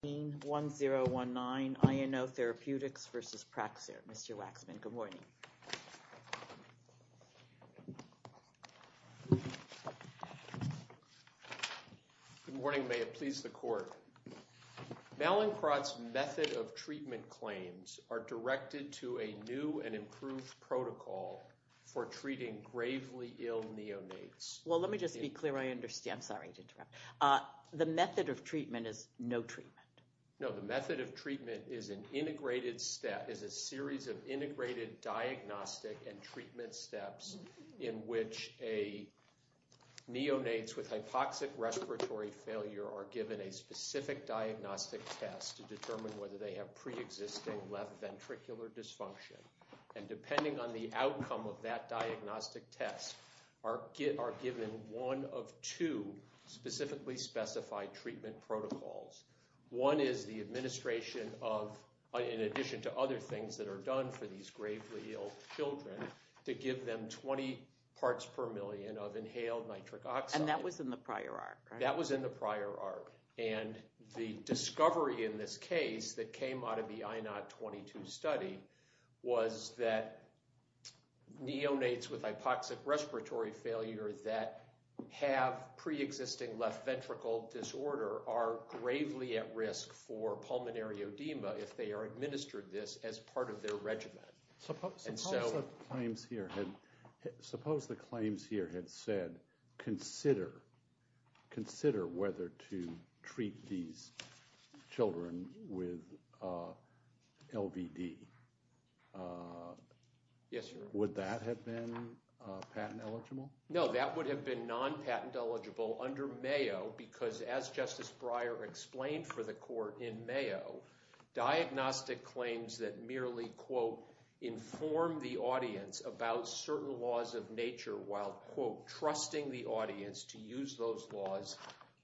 1019 INO Therapeutics v. Praxair. Mr. Waxman, good morning. Good morning. May it please the court. Mallinckrodt's method of treatment claims are directed to a new and improved protocol for treating gravely ill neonates. Well, let me just be clear. I understand. I'm sorry to interrupt. The method of treatment is no treatment. No, the method of treatment is an integrated step, is a series of integrated diagnostic and treatment steps in which a neonates with hypoxic respiratory failure are given a specific diagnostic test to determine whether they have pre-existing left ventricular dysfunction. And depending on the outcome of that diagnostic test, are given one of two specifically specified treatment protocols. One is the administration of, in addition to other things that are done for these gravely ill children, to give them 20 parts per million of inhaled nitric oxide. And that was in the prior arc, right? was that neonates with hypoxic respiratory failure that have pre-existing left ventricle disorder are gravely at risk for pulmonary edema if they are administered this as part of their regimen. Suppose the claims here had said, consider whether to treat these children with LVD. Yes, Your Honor. Would that have been patent eligible? No, that would have been non-patent eligible under Mayo, because as Justice Breyer explained for the court in Mayo, diagnostic claims that merely, quote, inform the audience about certain laws of nature while, quote, trusting the audience to use those laws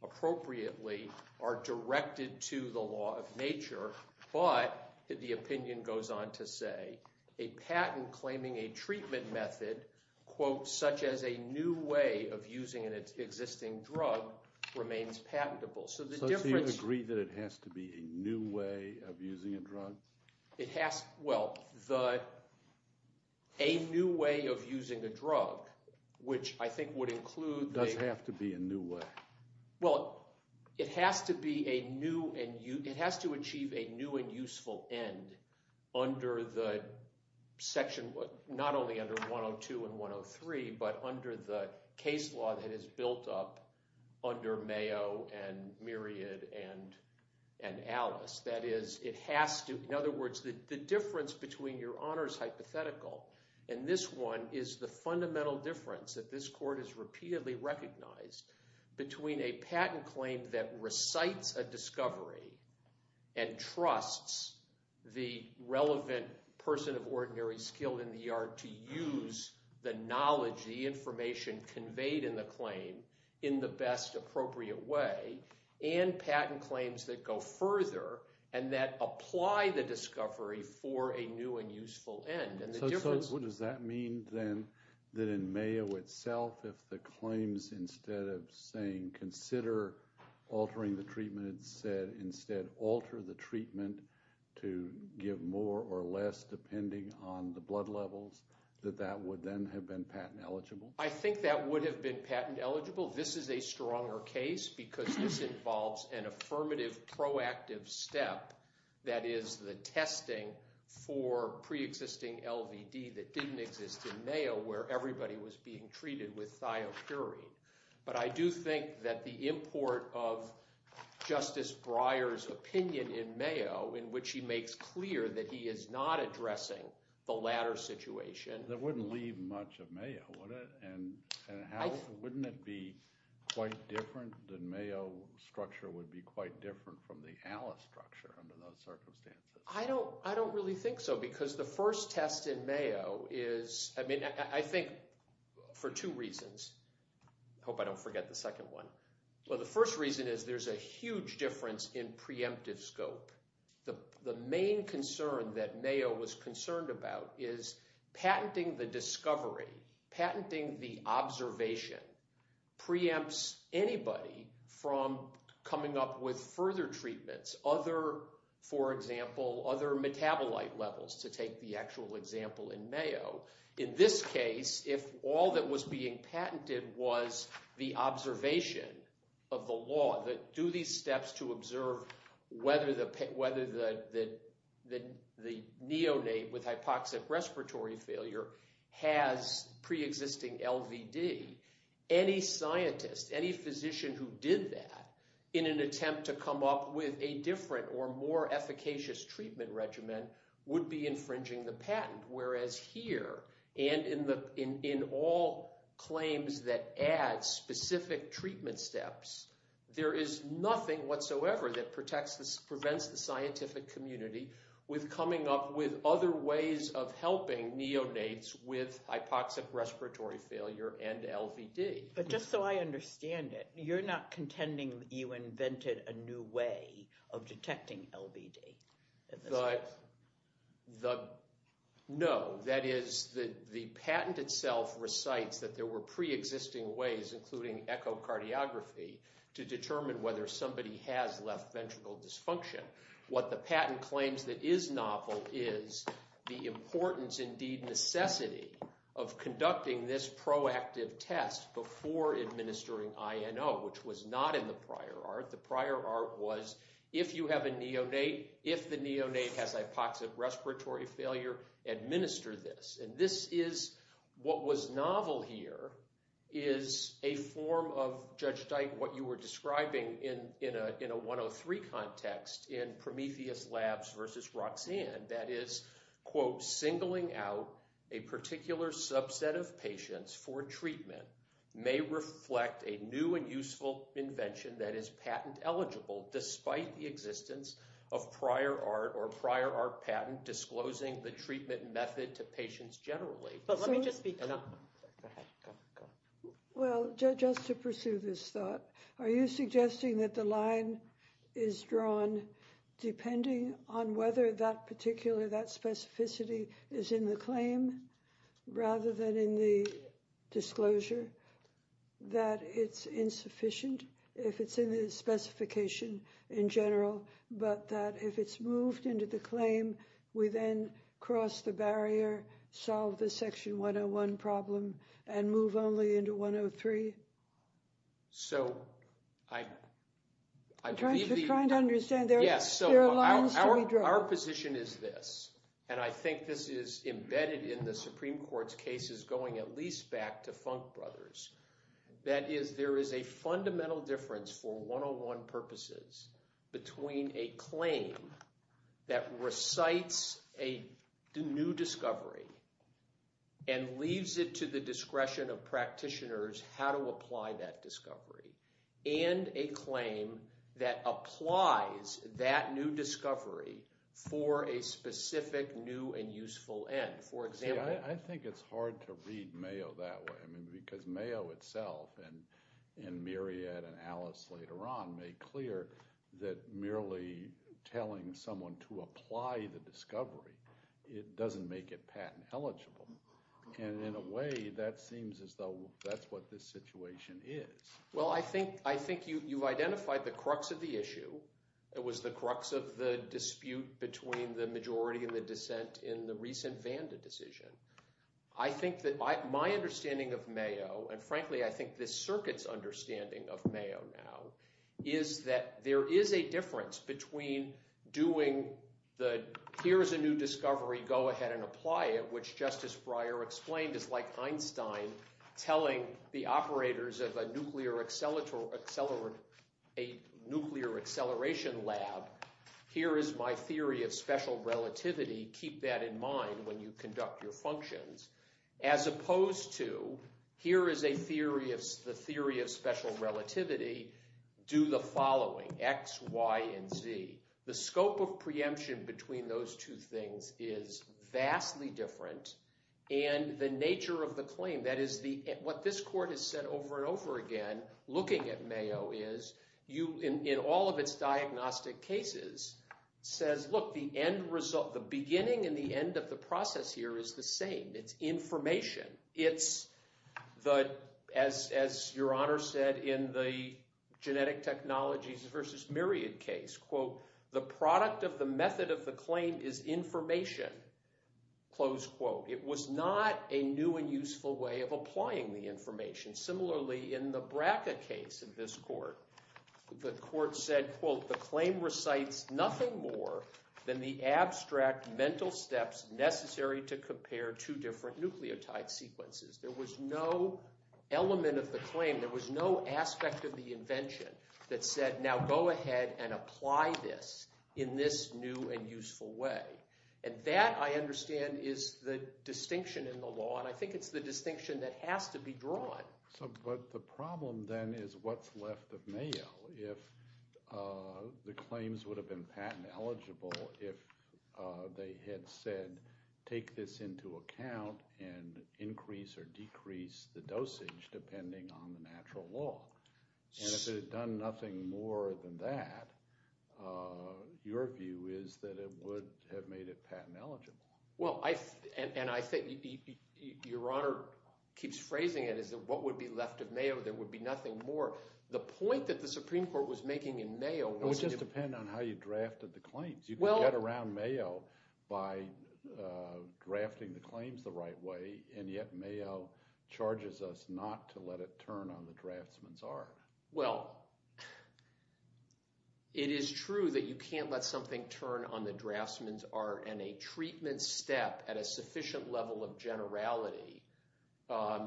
appropriately are directed to the law of nature. But, the opinion goes on to say, a patent claiming a treatment method, quote, such as a new way of using an existing drug, remains patentable. So do you agree that it has to be a new way of using a drug? Well, the, a new way of using a drug, which I think would include the Does have to be a new way. Well, it has to be a new and, it has to achieve a new and useful end under the section, not only under 102 and 103, but under the case law that is built up under Mayo and Myriad and Alice. That is, it has to, in other words, the difference between Your Honor's hypothetical and this one is the fundamental difference that this court has repeatedly recognized between a patent claim that recites a discovery and trusts the relevant person of ordinary skill in the yard to use the knowledge, the information conveyed in the claim in the best appropriate way, and patent claims that go further and that apply the discovery for a new and useful end. And the difference So does that mean then that in Mayo itself, if the claims instead of saying consider altering the treatment, said instead alter the treatment to give more or less depending on the blood levels, that that would then have been patent eligible? I think that would have been patent eligible. This is a stronger case because this involves an affirmative proactive step that is the testing for pre-existing LVD that didn't exist in Mayo where everybody was being treated with thiopurine. But I do think that the import of Justice Breyer's opinion in Mayo, in which he makes clear that he is not addressing the latter situation. That wouldn't leave much of Mayo, would it? And wouldn't it be quite different? The Mayo structure would be quite different from the Alice structure under those circumstances. I don't really think so because the first test in Mayo is – I mean I think for two reasons. I hope I don't forget the second one. Well, the first reason is there's a huge difference in preemptive scope. The main concern that Mayo was concerned about is patenting the discovery, patenting the observation preempts anybody from coming up with further treatments. Other, for example, other metabolite levels to take the actual example in Mayo. In this case, if all that was being patented was the observation of the law that do these steps to observe whether the neonate with hypoxic respiratory failure has pre-existing LVD. Any scientist, any physician who did that in an attempt to come up with a different or more efficacious treatment regimen would be infringing the patent. Whereas here and in all claims that add specific treatment steps, there is nothing whatsoever that prevents the scientific community with coming up with other ways of helping neonates with hypoxic respiratory failure and LVD. But just so I understand it, you're not contending that you invented a new way of detecting LVD? No. That is, the patent itself recites that there were pre-existing ways, including echocardiography, to determine whether somebody has left ventricle dysfunction. What the patent claims that is novel is the importance, indeed necessity, of conducting this proactive test before administering INO, which was not in the prior art. It was, if you have a neonate, if the neonate has hypoxic respiratory failure, administer this. And this is, what was novel here, is a form of, Judge Dyke, what you were describing in a 103 context in Prometheus Labs versus Roxanne. And that is, quote, singling out a particular subset of patients for treatment may reflect a new and useful invention that is patent eligible, despite the existence of prior art or prior art patent disclosing the treatment method to patients generally. But let me just speak. Go ahead. Well, just to pursue this thought, are you suggesting that the line is drawn depending on whether that particular, that specificity is in the claim rather than in the disclosure? That it's insufficient if it's in the specification in general, but that if it's moved into the claim, we then cross the barrier, solve the Section 101 problem, and move only into 103? So, I believe the… I'm trying to understand. There are lines to be drawn. Our position is this, and I think this is embedded in the Supreme Court's cases going at least back to Funk Brothers, that is, there is a fundamental difference for 101 purposes between a claim that recites a new discovery and leaves it to the discretion of practitioners how to apply that discovery and a claim that applies that new discovery for a specific new and useful end. For example… I think it's hard to read Mayo that way because Mayo itself and Myriad and Alice later on made clear that merely telling someone to apply the discovery, it doesn't make it patent eligible. And in a way, that seems as though that's what this situation is. Well, I think you've identified the crux of the issue. It was the crux of the dispute between the majority and the dissent in the recent Vanda decision. I think that my understanding of Mayo, and frankly I think this circuit's understanding of Mayo now, is that there is a difference between doing the, here is a new discovery, go ahead and apply it, which Justice Breyer explained is like Einstein telling the operators of a nuclear acceleration lab, here is my theory of special relativity. Keep that in mind when you conduct your functions. As opposed to, here is the theory of special relativity. Do the following, X, Y, and Z. The scope of preemption between those two things is vastly different, and the nature of the claim, that is what this court has said over and over again, looking at Mayo is, in all of its diagnostic cases, says look, the beginning and the end of the process here is the same. It's information. It's the, as your Honor said in the genetic technologies versus myriad case, quote, the product of the method of the claim is information, close quote. It was not a new and useful way of applying the information. Similarly, in the BRCA case in this court, the court said, quote, the claim recites nothing more than the abstract mental steps necessary to compare two different nucleotide sequences. There was no element of the claim. There was no aspect of the invention that said, now go ahead and apply this in this new and useful way. And that, I understand, is the distinction in the law, and I think it's the distinction that has to be drawn. So but the problem then is what's left of Mayo if the claims would have been patent eligible if they had said take this into account and increase or decrease the dosage depending on the natural law. And if it had done nothing more than that, your view is that it would have made it patent eligible. Well, I – and I think your Honor keeps phrasing it as what would be left of Mayo. There would be nothing more. The point that the Supreme Court was making in Mayo was – It would just depend on how you drafted the claims. You can get around Mayo by drafting the claims the right way, and yet Mayo charges us not to let it turn on the draftsman's art. Well, it is true that you can't let something turn on the draftsman's art and a treatment step at a sufficient level of generality.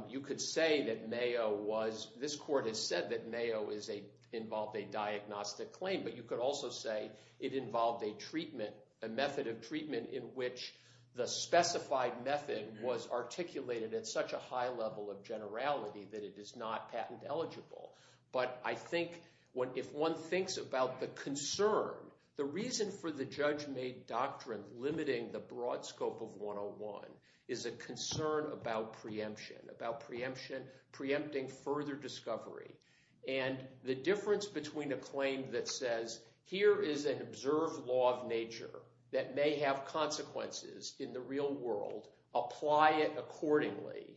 You could say that Mayo was – this court has said that Mayo is a – involved a diagnostic claim, but you could also say it involved a treatment, a method of treatment in which the specified method was articulated at such a high level of generality that it is not patent eligible. But I think if one thinks about the concern, the reason for the judge-made doctrine limiting the broad scope of 101 is a concern about preemption, about preempting further discovery. And the difference between a claim that says here is an observed law of nature that may have consequences in the real world, apply it accordingly,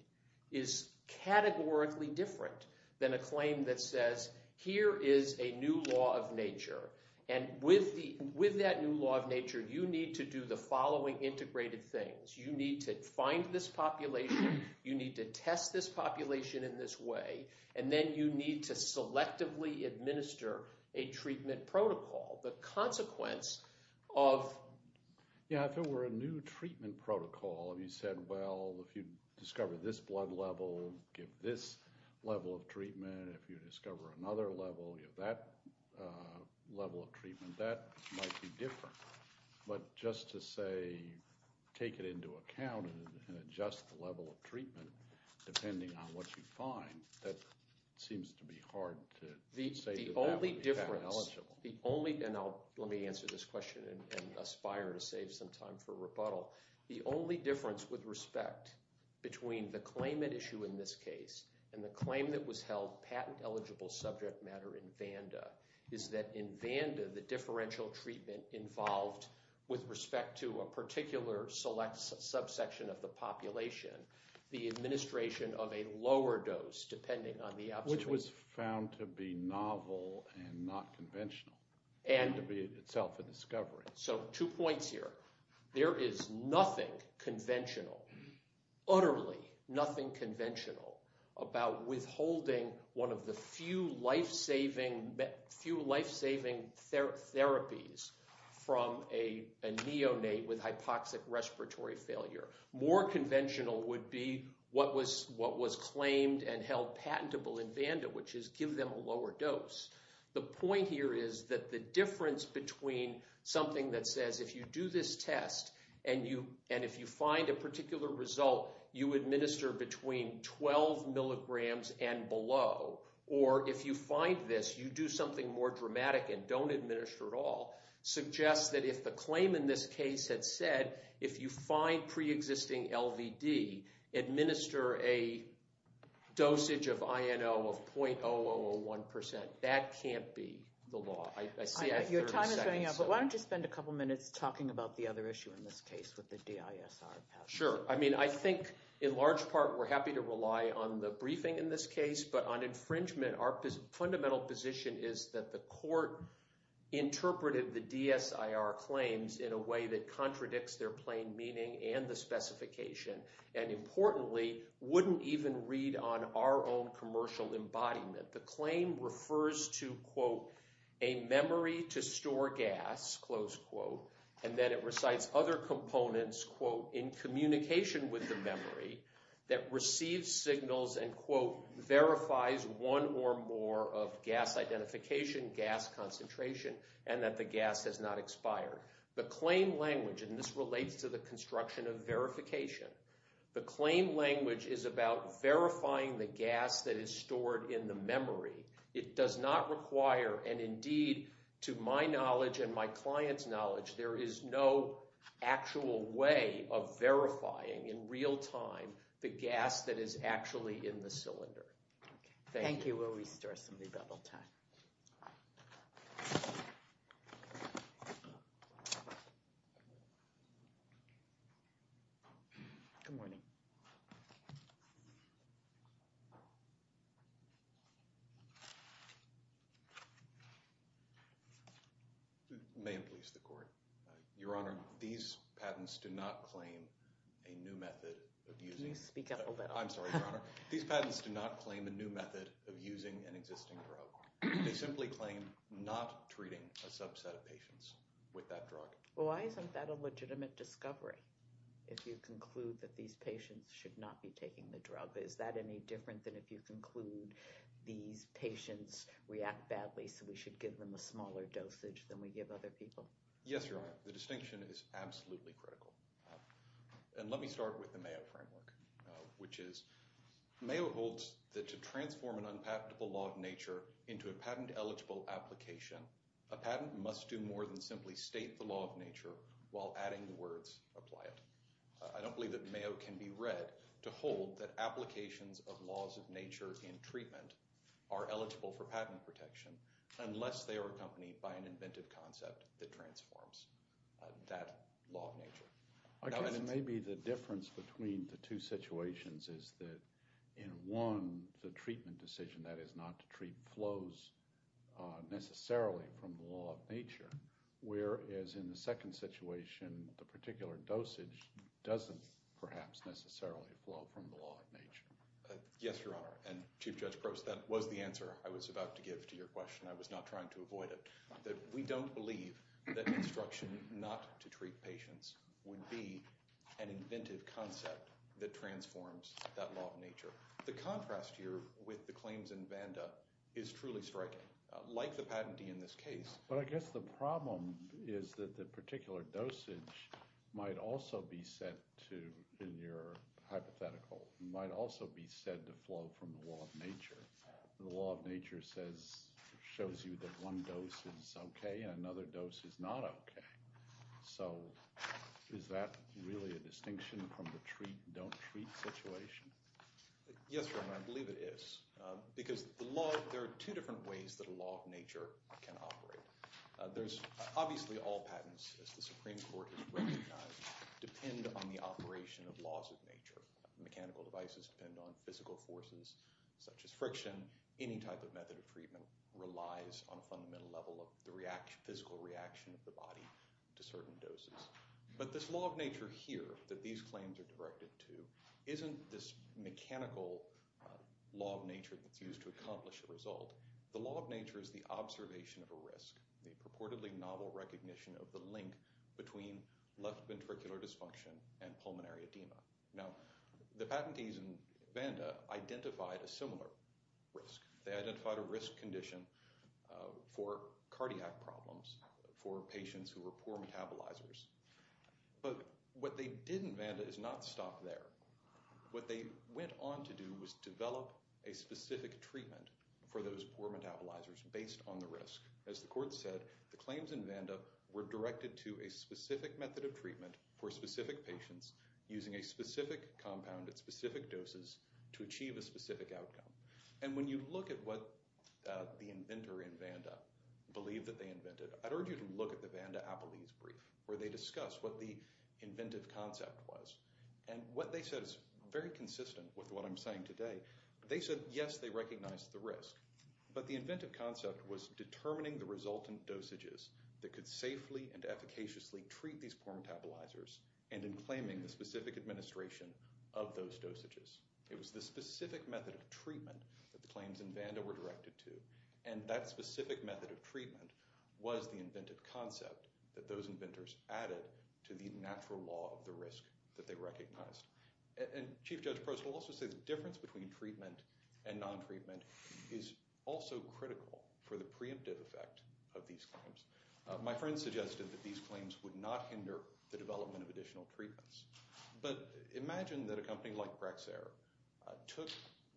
is categorically different than a claim that says here is a new law of nature. And with that new law of nature, you need to do the following integrated things. You need to find this population. You need to test this population in this way, and then you need to selectively administer a treatment protocol. The consequence of – That seems to be hard to say that that would be patent eligible. The only difference – and let me answer this question and aspire to save some time for rebuttal. The only difference with respect between the claimant issue in this case and the claim that was held patent eligible subject matter in Vanda is that in Vanda, the differential treatment involved with respect to a particular select subsection of the population, the administration of a lower dose depending on the observance. Which was found to be novel and not conventional. And – To be itself a discovery. So two points here. There is nothing conventional, utterly nothing conventional about withholding one of the few life-saving therapies from a neonate with hypoxic respiratory failure. More conventional would be what was claimed and held patentable in Vanda, which is give them a lower dose. The point here is that the difference between something that says if you do this test and you – and if you find a particular result, you administer between 12 milligrams and below. Or if you find this, you do something more dramatic and don't administer at all. Suggests that if the claim in this case had said if you find preexisting LVD, administer a dosage of INO of .0001%. That can't be the law. I see I have 30 seconds. Your time is running out, but why don't you spend a couple minutes talking about the other issue in this case with the DISR patent? Sure. I mean, I think in large part we're happy to rely on the briefing in this case. But on infringement, our fundamental position is that the court interpreted the DISR claims in a way that contradicts their plain meaning and the specification. And importantly, wouldn't even read on our own commercial embodiment. The claim refers to, quote, a memory to store gas, close quote. And then it recites other components, quote, in communication with the memory that receives signals and, quote, verifies one or more of gas identification, gas concentration, and that the gas has not expired. The claim language, and this relates to the construction of verification, the claim language is about verifying the gas that is stored in the memory. It does not require, and indeed to my knowledge and my client's knowledge, there is no actual way of verifying in real time the gas that is actually in the cylinder. Thank you. I'm going to go restore some of the double time. Good morning. May it please the court. Your Honor, these patents do not claim a new method of using. Can you speak up a little? I'm sorry, Your Honor. These patents do not claim a new method of using an existing drug. They simply claim not treating a subset of patients with that drug. Well, why isn't that a legitimate discovery if you conclude that these patients should not be taking the drug? Is that any different than if you conclude these patients react badly so we should give them a smaller dosage than we give other people? Yes, Your Honor. The distinction is absolutely critical. And let me start with the Mayo framework, which is Mayo holds that to transform an unpatentable law of nature into a patent eligible application, a patent must do more than simply state the law of nature while adding the words apply it. I don't believe that Mayo can be read to hold that applications of laws of nature in treatment are eligible for patent protection unless they are accompanied by an inventive concept that transforms that law of nature. I guess maybe the difference between the two situations is that in one, the treatment decision, that is not to treat flows necessarily from the law of nature, whereas in the second situation, the particular dosage doesn't perhaps necessarily flow from the law of nature. Yes, Your Honor. And Chief Judge Prost, that was the answer I was about to give to your question. I was not trying to avoid it. We don't believe that instruction not to treat patients would be an inventive concept that transforms that law of nature. The contrast here with the claims in Vanda is truly striking, like the patentee in this case. But I guess the problem is that the particular dosage might also be set to, in your hypothetical, might also be said to flow from the law of nature. The law of nature shows you that one dose is OK and another dose is not OK. So is that really a distinction from the treat, don't treat situation? Yes, Your Honor, I believe it is because there are two different ways that a law of nature can operate. There's obviously all patents, as the Supreme Court has recognized, depend on the operation of laws of nature. Mechanical devices depend on physical forces such as friction. Any type of method of treatment relies on a fundamental level of the physical reaction of the body to certain doses. But this law of nature here that these claims are directed to isn't this mechanical law of nature that's used to accomplish a result. The law of nature is the observation of a risk, the purportedly novel recognition of the link between left ventricular dysfunction and pulmonary edema. Now, the patentees in Vanda identified a similar risk. They identified a risk condition for cardiac problems for patients who were poor metabolizers. But what they did in Vanda is not stop there. What they went on to do was develop a specific treatment for those poor metabolizers based on the risk. As the court said, the claims in Vanda were directed to a specific method of treatment for specific patients using a specific compound at specific doses to achieve a specific outcome. And when you look at what the inventor in Vanda believed that they invented, I'd urge you to look at the Vanda-Apollese brief where they discuss what the inventive concept was. And what they said is very consistent with what I'm saying today. They said, yes, they recognized the risk, but the inventive concept was determining the resultant dosages that could safely and efficaciously treat these poor metabolizers and in claiming the specific administration of those dosages. It was the specific method of treatment that the claims in Vanda were directed to. And that specific method of treatment was the inventive concept that those inventors added to the natural law of the risk that they recognized. And Chief Judge Prost will also say the difference between treatment and non-treatment is also critical for the preemptive effect of these claims. My friend suggested that these claims would not hinder the development of additional treatments. But imagine that a company like Brexair took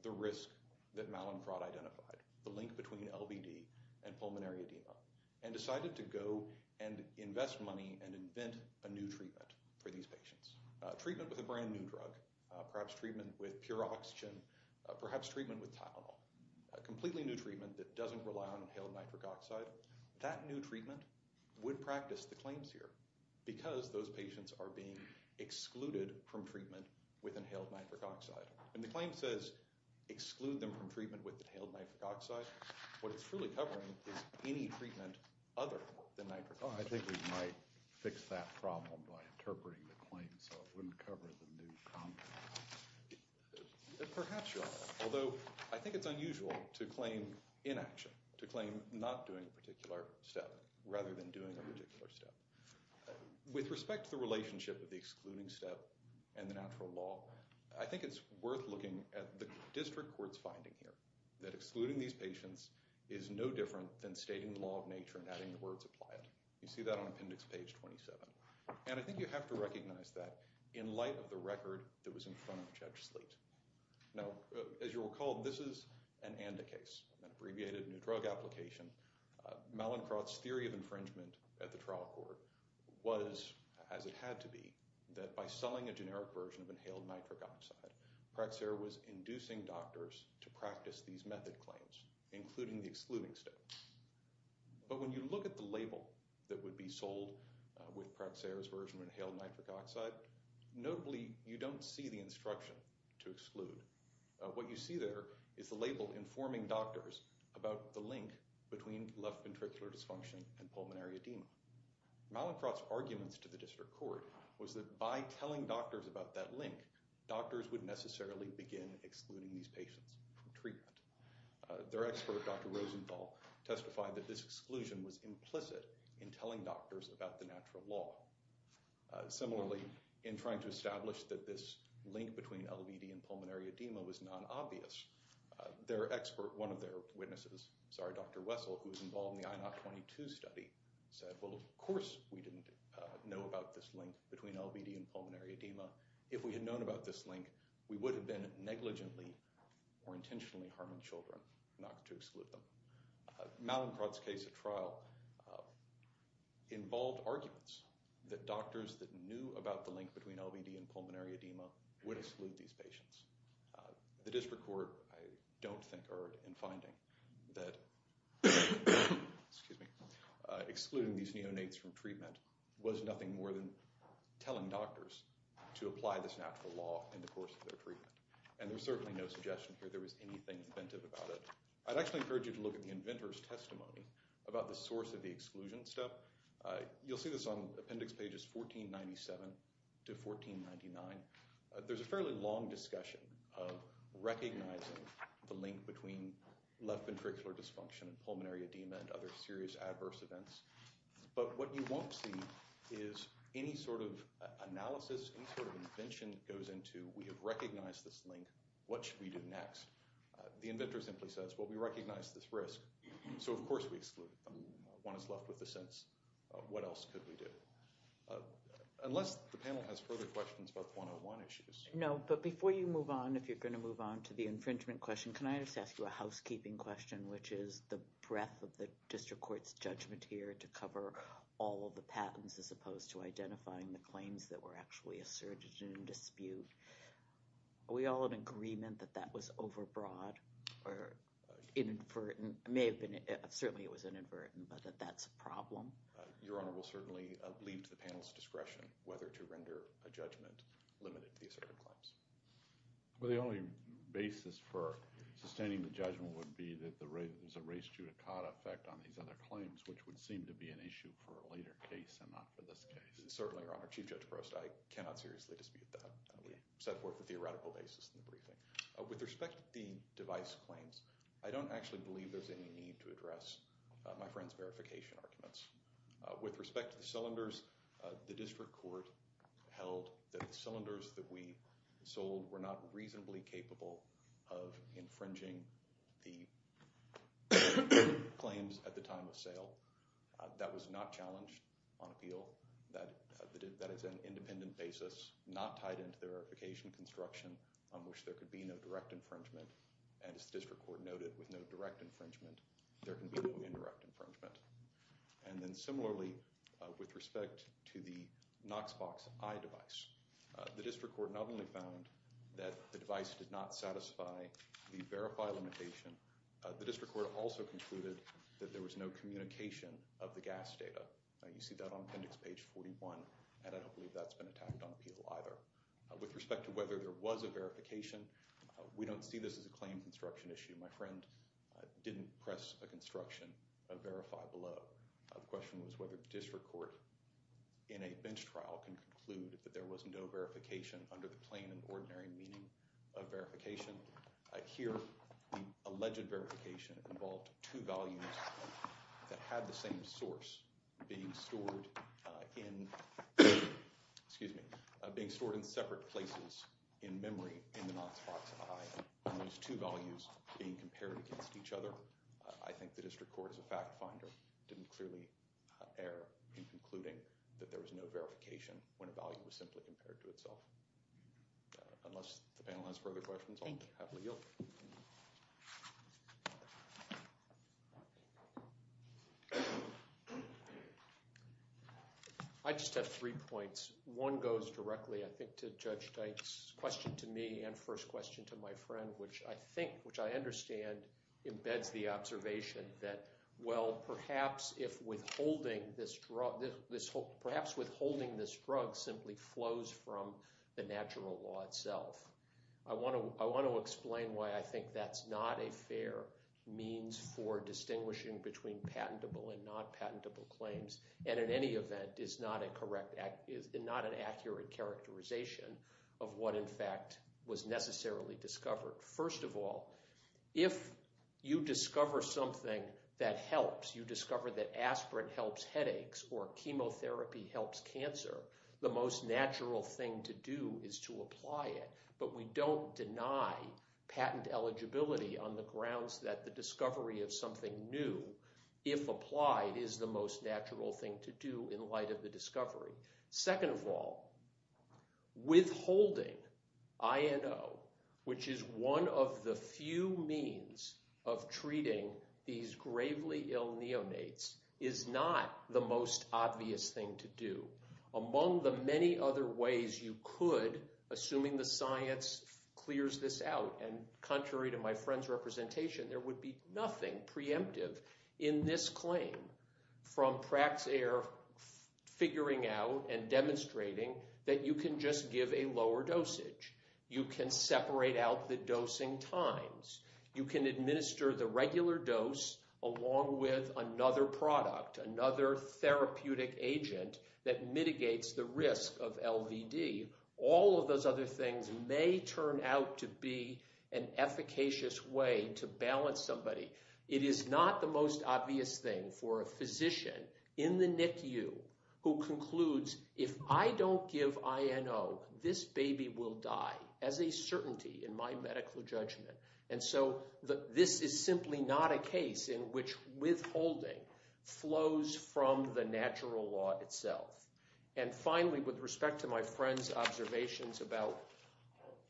the risk that Mallinckrodt identified, the link between LVD and pulmonary edema, and decided to go and invest money and invent a new treatment for these patients. A treatment with a brand new drug, perhaps treatment with pure oxygen, perhaps treatment with Tylenol, a completely new treatment that doesn't rely on inhaled nitric oxide. That new treatment would practice the claims here because those patients are being excluded from treatment with inhaled nitric oxide. And the claim says exclude them from treatment with inhaled nitric oxide. What it's truly covering is any treatment other than nitric oxide. I think we might fix that problem by interpreting the claim so it wouldn't cover the new concept. Perhaps you're right. Although, I think it's unusual to claim inaction, to claim not doing a particular step rather than doing a particular step. With respect to the relationship of the excluding step and the natural law, I think it's worth looking at the district court's finding here. That excluding these patients is no different than stating the law of nature and having the words apply it. You see that on appendix page 27. And I think you have to recognize that in light of the record that was in front of Judge Slate. Now, as you'll recall, this is an ANDA case, an abbreviated new drug application. Malincroft's theory of infringement at the trial court was, as it had to be, that by selling a generic version of inhaled nitric oxide, Praxair was inducing doctors to practice these method claims, including the excluding step. But when you look at the label that would be sold with Praxair's version of inhaled nitric oxide, notably you don't see the instruction to exclude. What you see there is the label informing doctors about the link between left ventricular dysfunction and pulmonary edema. Malincroft's arguments to the district court was that by telling doctors about that link, doctors would necessarily begin excluding these patients from treatment. Their expert, Dr. Rosenthal, testified that this exclusion was implicit in telling doctors about the natural law. Similarly, in trying to establish that this link between LVD and pulmonary edema was non-obvious, their expert, one of their witnesses, sorry, Dr. Wessel, who was involved in the INAH 22 study, said, well, of course we didn't know about this link between LVD and pulmonary edema. If we had known about this link, we would have been negligently or intentionally harming children, not to exclude them. Malincroft's case at trial involved arguments that doctors that knew about the link between LVD and pulmonary edema would exclude these patients. The district court, I don't think, erred in finding that excluding these neonates from treatment was nothing more than telling doctors to apply this natural law in the course of their treatment. And there's certainly no suggestion here there was anything inventive about it. I'd actually encourage you to look at the inventor's testimony about the source of the exclusion step. You'll see this on appendix pages 1497 to 1499. There's a fairly long discussion of recognizing the link between left ventricular dysfunction and pulmonary edema and other serious adverse events. But what you won't see is any sort of analysis, any sort of invention that goes into, we have recognized this link, what should we do next? The inventor simply says, well, we recognize this risk, so of course we exclude them. One is left with the sense, what else could we do? Unless the panel has further questions about the 101 issues. No, but before you move on, if you're going to move on to the infringement question, can I just ask you a housekeeping question, which is the breadth of the district court's judgment here to cover all of the patents as opposed to identifying the claims that were actually asserted in dispute. Are we all in agreement that that was overbroad or inadvertent? It may have been, certainly it was inadvertent, but that that's a problem? Your Honor, we'll certainly leave to the panel's discretion whether to render a judgment limited to the asserted claims. Well, the only basis for sustaining the judgment would be that there's a res judicata effect on these other claims, which would seem to be an issue for a later case and not for this case. Certainly, Your Honor. Chief Judge Prost, I cannot seriously dispute that. With respect to the device claims, I don't actually believe there's any need to address my friend's verification arguments. With respect to the cylinders, the district court held that the cylinders that we sold were not reasonably capable of infringing the claims at the time of sale. That was not challenged on appeal. That is an independent basis not tied into the verification construction on which there could be no direct infringement. And as the district court noted, with no direct infringement, there can be no indirect infringement. And then similarly, with respect to the Knoxbox Eye device, the district court not only found that the device did not satisfy the verify limitation, the district court also concluded that there was no communication of the gas data. You see that on appendix page 41, and I don't believe that's been attacked on appeal either. With respect to whether there was a verification, we don't see this as a claim construction issue. My friend didn't press a construction verify below. The question was whether the district court in a bench trial can conclude that there was no verification under the plain and ordinary meaning of verification. Here, the alleged verification involved two values that had the same source being stored in separate places in memory in the Knoxbox Eye, and those two values being compared against each other. I think the district court, as a fact finder, didn't clearly err in concluding that there was no verification when a value was simply compared to itself. Unless the panel has further questions, I'll happily yield. I just have three points. One goes directly, I think, to Judge Teich's question to me and first question to my friend, which I think, which I understand, embeds the observation that, well, perhaps withholding this drug simply flows from the natural law itself. I want to explain why I think that's not a fair means for distinguishing between patentable and not patentable claims, and in any event is not an accurate characterization of what, in fact, was necessarily discovered. First of all, if you discover something that helps, you discover that aspirin helps headaches or chemotherapy helps cancer, the most natural thing to do is to apply it. But we don't deny patent eligibility on the grounds that the discovery of something new, if applied, is the most natural thing to do in light of the discovery. Second of all, withholding INO, which is one of the few means of treating these gravely ill neonates, is not the most obvious thing to do. Among the many other ways you could, assuming the science clears this out, and contrary to my friend's representation, there would be nothing preemptive in this claim from Praxair figuring out and demonstrating that you can just give a lower dosage. You can separate out the dosing times. You can administer the regular dose along with another product, another therapeutic agent that mitigates the risk of LVD. All of those other things may turn out to be an efficacious way to balance somebody. It is not the most obvious thing for a physician in the NICU who concludes, if I don't give INO, this baby will die as a certainty in my medical judgment. And so this is simply not a case in which withholding flows from the natural law itself. And finally, with respect to my friend's observations about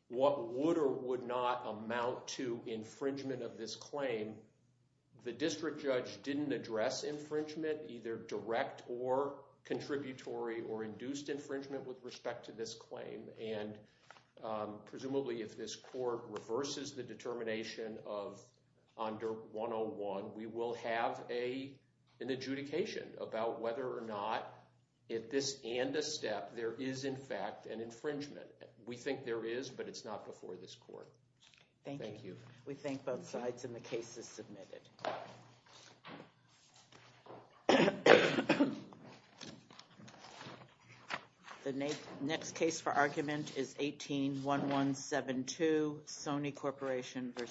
what would or would not amount to infringement of this claim, the district judge didn't address infringement, either direct or contributory, or induced infringement with respect to this claim. And presumably if this court reverses the determination of under 101, we will have an adjudication about whether or not, at this end of step, there is in fact an infringement. We think there is, but it's not before this court. Thank you. We thank both sides and the case is submitted. The next case for argument is 18-1172, Sony Corporation v. Yonkuk.